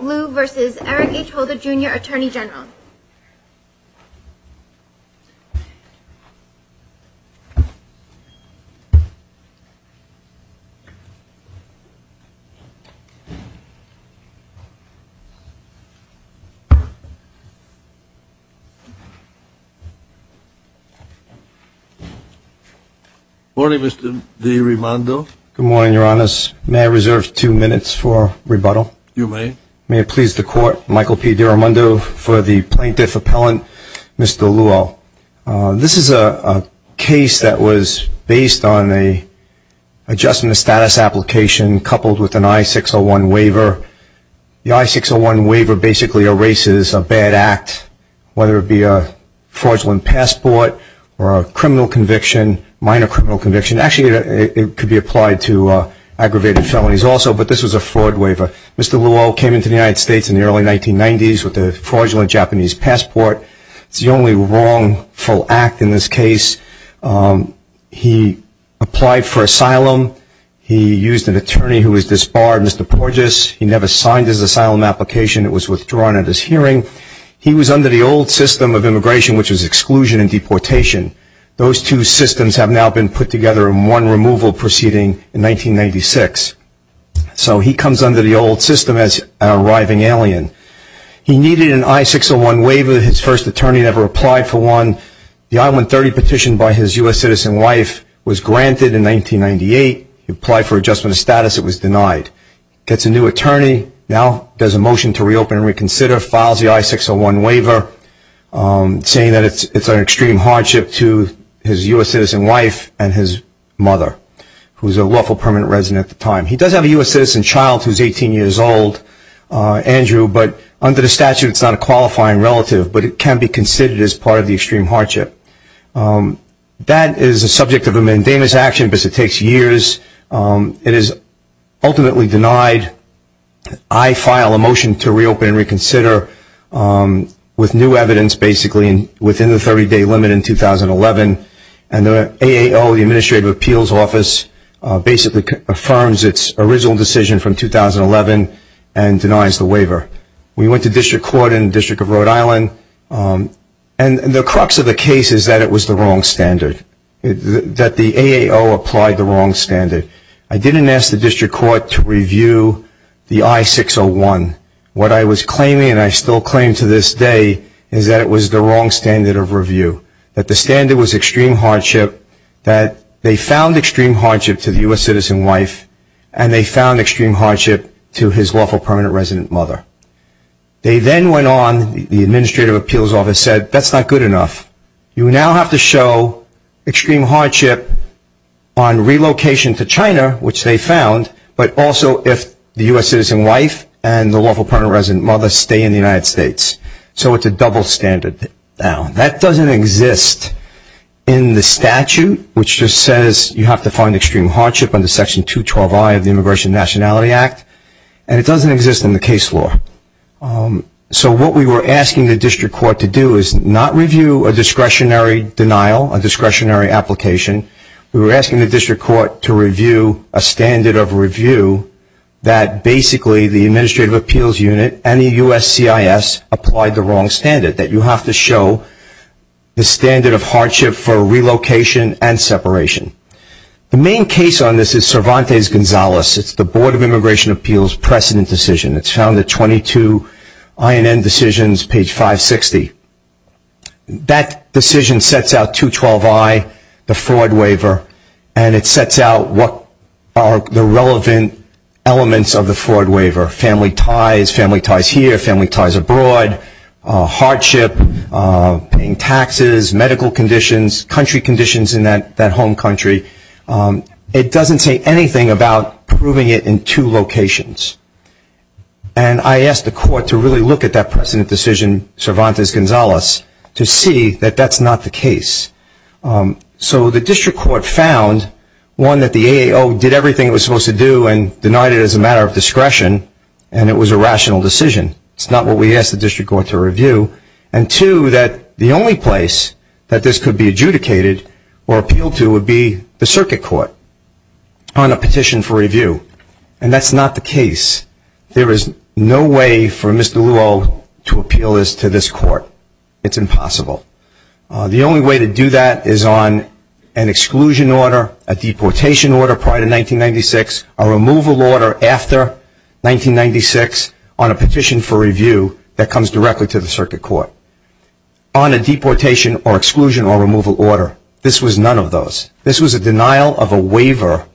Liu v. Eric H. Holder, Jr., Attorney General. Good morning, Mr. DiRimando. Good morning, Your Honors. May I reserve two minutes for rebuttal? You may. May it please the Court, Michael P. DiRimando, for the plaintiff appellant, Mr. Luo. This is a case that was based on an adjustment of status application coupled with an I-601 waiver. The I-601 waiver basically erases a bad act, whether it be a fraudulent passport or a criminal conviction, minor criminal conviction. Actually, it could be applied to aggravated felonies also, but this was a fraud waiver. Mr. Luo came into the United States in the early 1990s with a fraudulent Japanese passport. It's the only wrongful act in this case. He applied for asylum. He used an attorney who was disbarred, Mr. Porges. He never signed his asylum application. It was withdrawn at his hearing. He was under the old system of immigration, which was exclusion and deportation. Those two systems have now been put together in one removal proceeding in 1996. So he comes under the old system as an arriving alien. He needed an I-601 waiver. His first attorney never applied for one. The I-130 petition by his U.S. citizen wife was granted in 1998. He applied for adjustment of status. It was denied. He gets a new attorney, now does a motion to reopen and reconsider, files the I-601 waiver, saying that it's an extreme hardship to his U.S. citizen wife and his mother, who was a lawful permanent resident at the time. He does have a U.S. citizen child who's 18 years old, Andrew, but under the statute, it's not a qualifying relative, but it can be considered as part of the extreme hardship. That is a subject of a mandamus action because it takes years. It is ultimately denied. I file a motion to reopen and reconsider with new evidence, basically, within the 30-day limit in 2011, and the AAO, the Administrative Appeals Office, basically affirms its original decision from 2011 and denies the waiver. We went to district court in the District of Rhode Island, and the crux of the case is that it was the wrong standard, that the AAO applied the wrong standard. I didn't ask the district court to review the I-601. What I was claiming, and I still claim to this day, is that it was the wrong standard of review, that the standard was extreme hardship, that they found extreme hardship to the U.S. citizen wife, and they found extreme hardship to his lawful permanent resident mother. They then went on, the Administrative Appeals Office said, that's not good enough. You now have to show extreme hardship on relocation to China, which they found, but also if the U.S. citizen wife and the lawful permanent resident mother stay in the United States. So it's a double standard now. That doesn't exist in the statute, which just says you have to find extreme hardship under Section 212I of the Immigration and Nationality Act, and it doesn't exist in the case law. So what we were asking the district court to do is not review a discretionary denial, a discretionary application. We were asking the district court to review a standard of review, that basically the Administrative Appeals Unit and the USCIS applied the wrong standard, that you have to show the standard of hardship for relocation and separation. The main case on this is Cervantes-Gonzalez. It's the Board of Immigration Appeals precedent decision. It's found at 22 INN decisions, page 560. That decision sets out 212I, the fraud waiver, and it sets out what are the relevant elements of the fraud waiver, family ties, family ties here, family ties abroad, hardship, paying taxes, medical conditions, country conditions in that home country. It doesn't say anything about proving it in two locations. And I asked the court to really look at that precedent decision, Cervantes-Gonzalez, to see that that's not the case. So the district court found, one, that the AAO did everything it was supposed to do and denied it as a matter of discretion, and it was a rational decision. And, two, that the only place that this could be adjudicated or appealed to would be the circuit court on a petition for review. And that's not the case. There is no way for Mr. Luehl to appeal this to this court. It's impossible. The only way to do that is on an exclusion order, a deportation order prior to 1996, a removal order after 1996 on a petition for review that comes directly to the circuit court. On a deportation or exclusion or removal order, this was none of those. This was a denial of a waiver,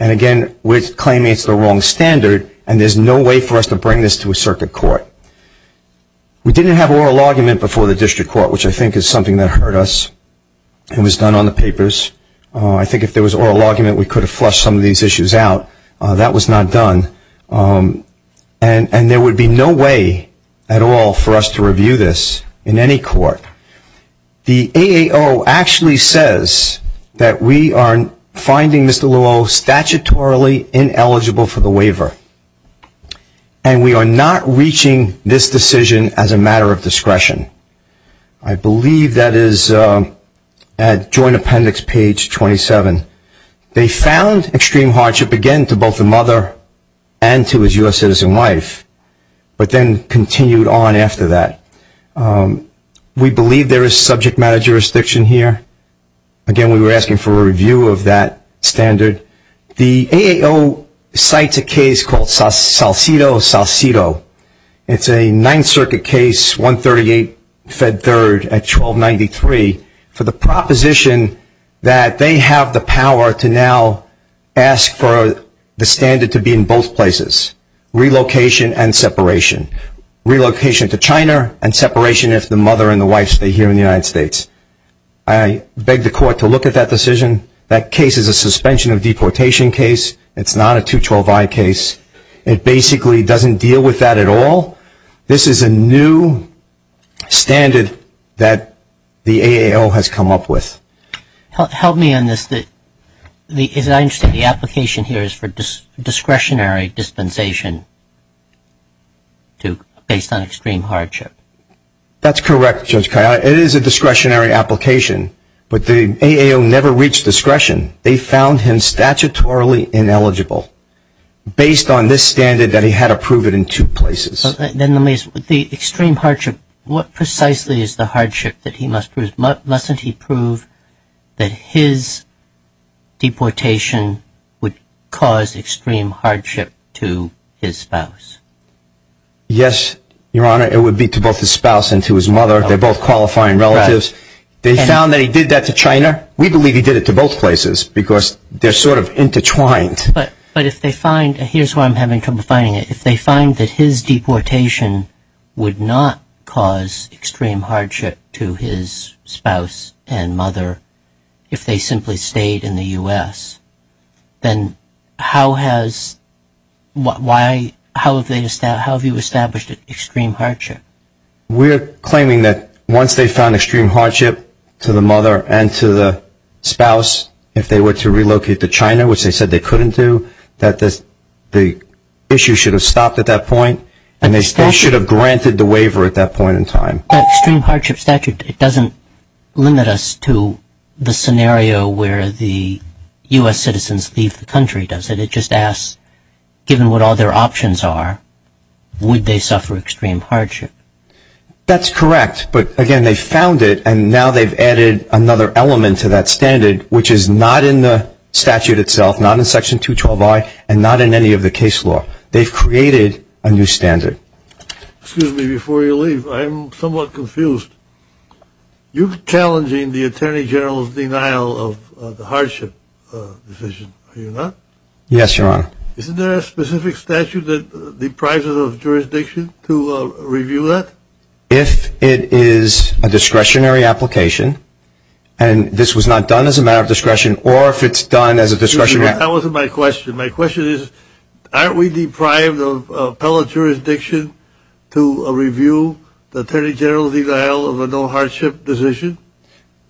and, again, we're claiming it's the wrong standard, and there's no way for us to bring this to a circuit court. We didn't have oral argument before the district court, which I think is something that hurt us. It was done on the papers. I think if there was oral argument, we could have flushed some of these issues out. That was not done. And there would be no way at all for us to review this in any court. The AAO actually says that we are finding Mr. Luehl statutorily ineligible for the waiver, and we are not reaching this decision as a matter of discretion. I believe that is at Joint Appendix page 27. They found extreme hardship again to both the mother and to his U.S. citizen wife, but then continued on after that. We believe there is subject matter jurisdiction here. Again, we were asking for a review of that standard. The AAO cites a case called Salcido-Salcido. It's a Ninth Circuit case, 138 Fed Third at 1293, for the proposition that they have the power to now ask for the standard to be in both places, relocation and separation, relocation to China and separation if the mother and the wife stay here in the United States. I beg the court to look at that decision. That case is a suspension of deportation case. It's not a 212i case. It basically doesn't deal with that at all. This is a new standard that the AAO has come up with. Help me on this. I understand the application here is for discretionary dispensation based on extreme hardship. That's correct, Judge Kaye. It is a discretionary application, but the AAO never reached discretion. They found him statutorily ineligible based on this standard that he had approved it in two places. Then the extreme hardship, what precisely is the hardship that he must prove? Mustn't he prove that his deportation would cause extreme hardship to his spouse? Yes, Your Honor, it would be to both his spouse and to his mother. They're both qualifying relatives. They found that he did that to China. We believe he did it to both places because they're sort of intertwined. But if they find, and here's where I'm having trouble finding it, if they find that his deportation would not cause extreme hardship to his spouse and mother if they simply stayed in the U.S., then how have you established extreme hardship? We're claiming that once they found extreme hardship to the mother and to the spouse, if they were to relocate to China, which they said they couldn't do, that the issue should have stopped at that point and they should have granted the waiver at that point in time. But extreme hardship statute, it doesn't limit us to the scenario where the U.S. citizens leave the country, does it? It just asks, given what all their options are, would they suffer extreme hardship? That's correct. But, again, they found it, and now they've added another element to that standard, which is not in the statute itself, not in Section 212I, and not in any of the case law. They've created a new standard. Excuse me. Before you leave, I'm somewhat confused. You're challenging the Attorney General's denial of the hardship decision, are you not? Yes, Your Honor. Isn't there a specific statute that deprives us of jurisdiction to review that? If it is a discretionary application and this was not done as a matter of discretion or if it's done as a discretionary application. That wasn't my question. My question is, aren't we deprived of appellate jurisdiction to review the Attorney General's denial of a no-hardship decision?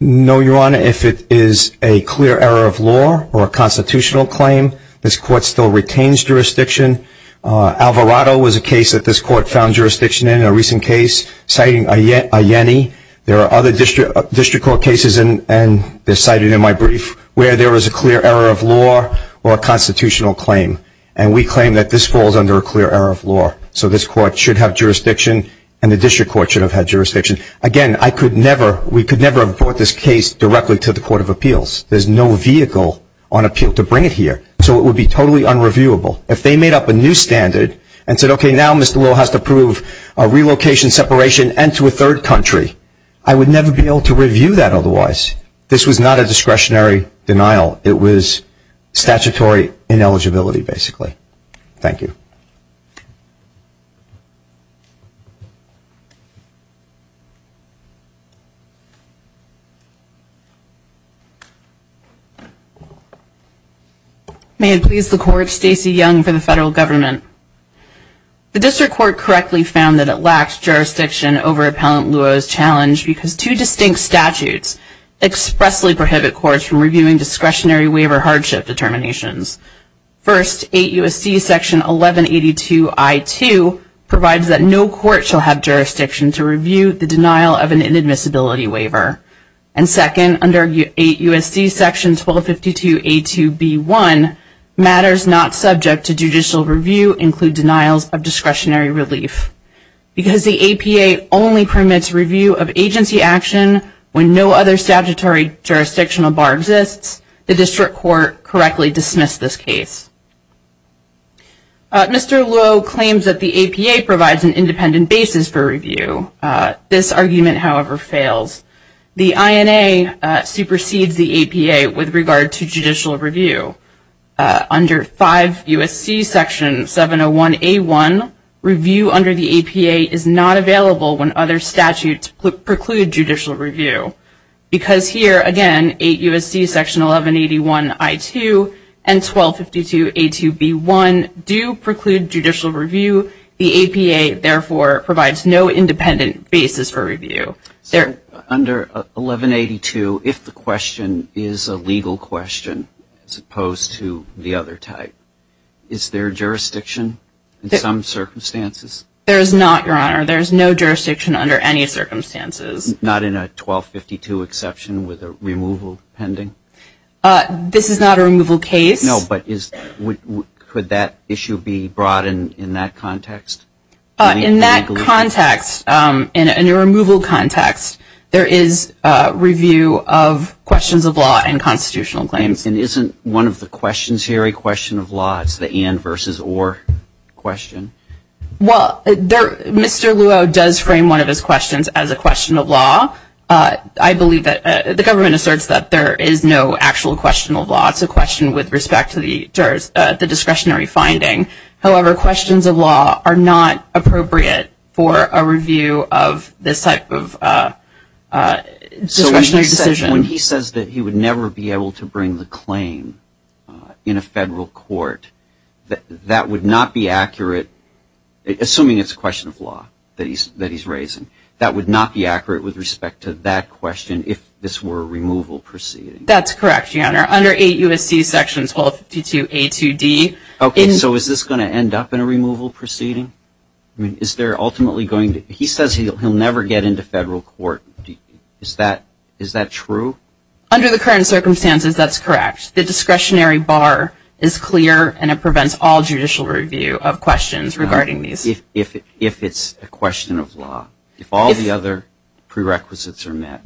No, Your Honor. If it is a clear error of law or a constitutional claim, this Court still retains jurisdiction. Alvarado was a case that this Court found jurisdiction in, a recent case, citing Ayeni. There are other district court cases, and they're cited in my brief, where there is a clear error of law or a constitutional claim. And we claim that this falls under a clear error of law. So this Court should have jurisdiction and the district court should have had jurisdiction. Again, I could never, we could never have brought this case directly to the Court of Appeals. There's no vehicle on appeal to bring it here. So it would be totally unreviewable. If they made up a new standard and said, okay, now Mr. Lowe has to approve a relocation separation and to a third country, I would never be able to review that otherwise. This was not a discretionary denial. It was statutory ineligibility, basically. Thank you. May it please the Court, Stacey Young for the Federal Government. The district court correctly found that it lacks jurisdiction over Appellant Lowe's challenge because two distinct statutes expressly prohibit courts from reviewing discretionary waiver hardship determinations. First, 8 U.S.C. Section 1182 I.2 provides that no court shall have jurisdiction to review the denial of an inadmissibility waiver. And second, under 8 U.S.C. Section 1252 A.2 B.1, matters not subject to judicial review include denials of discretionary relief. Because the APA only permits review of agency action when no other statutory jurisdictional bar exists, the district court correctly dismissed this case. Mr. Lowe claims that the APA provides an independent basis for review. This argument, however, fails. The INA supersedes the APA with regard to judicial review. Under 5 U.S.C. Section 701 A.1, review under the APA is not available when other statutes preclude judicial review. Because here, again, 8 U.S.C. Section 1181 I.2 and 1252 A.2 B.1 do preclude judicial review. The APA, therefore, provides no independent basis for review. Under 1182, if the question is a legal question as opposed to the other type, is there jurisdiction in some circumstances? There is not, Your Honor. There is no jurisdiction under any circumstances. Not in a 1252 exception with a removal pending? This is not a removal case. No, but could that issue be brought in in that context? In that context, in a removal context, there is review of questions of law and constitutional claims. And isn't one of the questions here a question of law? It's the and versus or question. Well, Mr. Luo does frame one of his questions as a question of law. I believe that the government asserts that there is no actual question of law. It's a question with respect to the discretionary finding. However, questions of law are not appropriate for a review of this type of discretionary decision. When he says that he would never be able to bring the claim in a federal court, that would not be accurate, assuming it's a question of law that he's raising. That would not be accurate with respect to that question if this were a removal proceeding. That's correct, Your Honor. Under 8 U.S.C. Sections 1252 A to D. Okay, so is this going to end up in a removal proceeding? I mean, is there ultimately going to? He says he'll never get into federal court. Is that true? Under the current circumstances, that's correct. The discretionary bar is clear, and it prevents all judicial review of questions regarding these. If it's a question of law, if all the other prerequisites are met.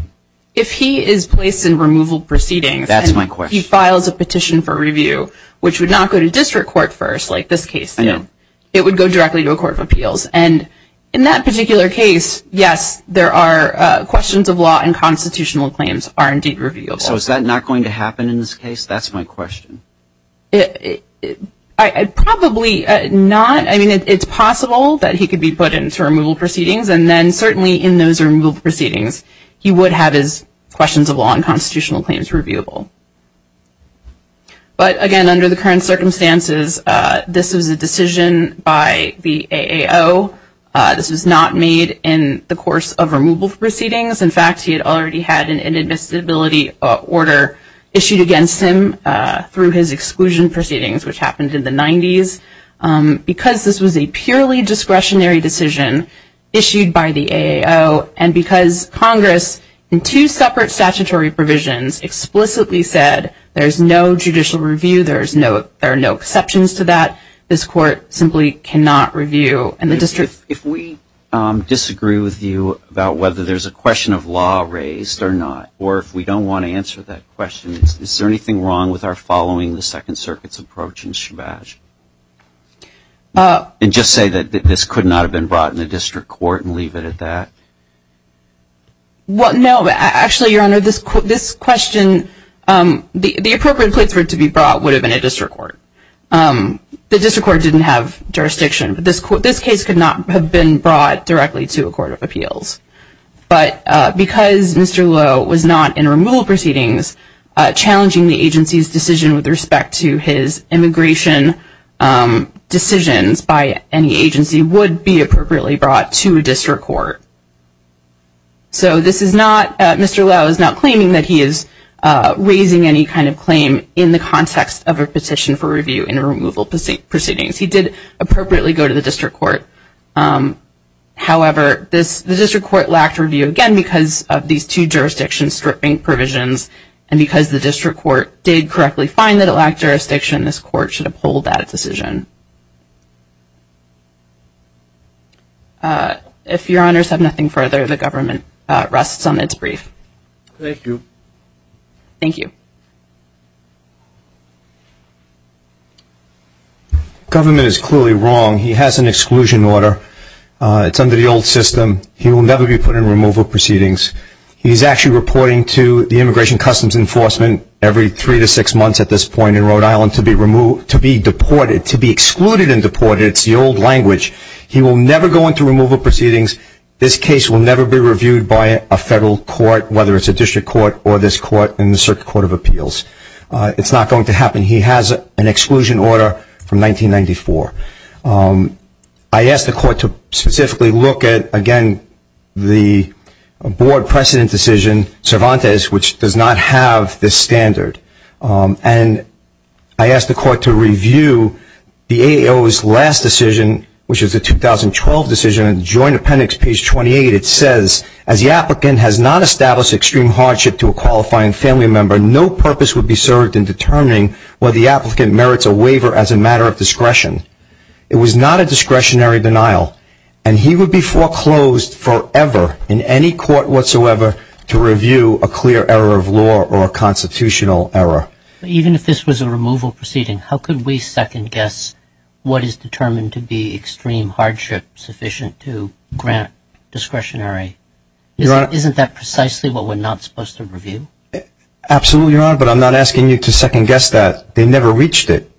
If he is placed in removal proceedings and he files a petition for review, which would not go to district court first like this case did, it would go directly to a court of appeals. And in that particular case, yes, there are questions of law and constitutional claims are indeed reviewable. So is that not going to happen in this case? That's my question. Probably not. I mean, it's possible that he could be put into removal proceedings, and then certainly in those removal proceedings he would have his questions of law and constitutional claims reviewable. But, again, under the current circumstances, this was a decision by the AAO. This was not made in the course of removal proceedings. In fact, he had already had an inadmissibility order issued against him through his exclusion proceedings, which happened in the 90s. Because this was a purely discretionary decision issued by the AAO, and because Congress in two separate statutory provisions explicitly said there's no judicial review, there are no exceptions to that, this court simply cannot review. If we disagree with you about whether there's a question of law raised or not, or if we don't want to answer that question, is there anything wrong with our following the Second Circuit's approach in Shabazz? And just say that this could not have been brought in a district court and leave it at that? Well, no. Actually, Your Honor, this question, the appropriate place for it to be brought would have been a district court. The district court didn't have jurisdiction. This case could not have been brought directly to a court of appeals. But because Mr. Lowe was not in removal proceedings, challenging the agency's decision with respect to his immigration decisions by any agency would be appropriately brought to a district court. So this is not, Mr. Lowe is not claiming that he is raising any kind of claim in the context of a petition for review in removal proceedings. He did appropriately go to the district court. However, the district court lacked review, again, because of these two jurisdiction stripping provisions. And because the district court did correctly find that it lacked jurisdiction, this court should uphold that decision. If Your Honors have nothing further, the government rests on its brief. Thank you. Thank you. The government is clearly wrong. He has an exclusion order. It's under the old system. He will never be put in removal proceedings. He's actually reporting to the Immigration Customs Enforcement every three to six months at this point in Rhode Island to be deported, to be excluded and deported. It's the old language. He will never go into removal proceedings. This case will never be reviewed by a federal court, whether it's a district court or this court in the circuit court of appeals. It's not going to happen. He has an exclusion order from 1994. I asked the court to specifically look at, again, the Board precedent decision, Cervantes, which does not have this standard. And I asked the court to review the AAO's last decision, which is the 2012 decision. In the Joint Appendix, page 28, it says, as the applicant has not established extreme hardship to a qualifying family member, no purpose would be served in determining whether the applicant merits a waiver as a matter of discretion. It was not a discretionary denial. And he would be foreclosed forever in any court whatsoever to review a clear error of law or a constitutional error. Even if this was a removal proceeding, how could we second-guess what is determined to be extreme hardship sufficient to grant discretionary? Isn't that precisely what we're not supposed to review? Absolutely, Your Honor, but I'm not asking you to second-guess that. They never reached it.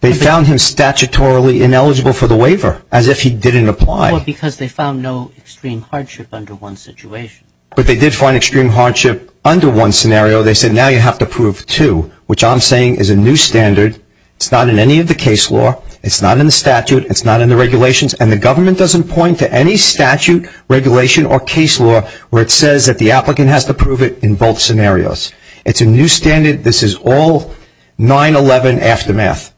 They found him statutorily ineligible for the waiver, as if he didn't apply. Well, because they found no extreme hardship under one situation. But they did find extreme hardship under one scenario. They said, now you have to prove two, which I'm saying is a new standard. It's not in any of the case law. It's not in the statute. It's not in the regulations. And the government doesn't point to any statute, regulation, or case law where it says that the applicant has to prove it in both scenarios. It's a new standard. This is all 9-11 aftermath.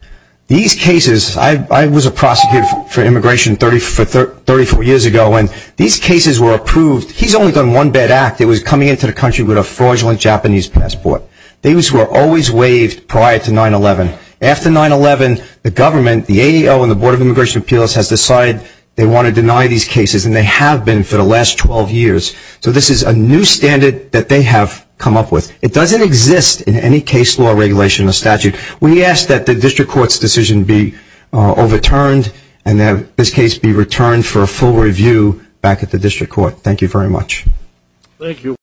These cases, I was a prosecutor for immigration 34 years ago, and these cases were approved. He's only done one bad act. It was coming into the country with a fraudulent Japanese passport. These were always waived prior to 9-11. After 9-11, the government, the AEO, and the Board of Immigration Appeals has decided they want to deny these cases, and they have been for the last 12 years. So this is a new standard that they have come up with. It doesn't exist in any case law, regulation, or statute. We ask that the district court's decision be overturned and that this case be returned for a full review back at the district court. Thank you very much. Thank you.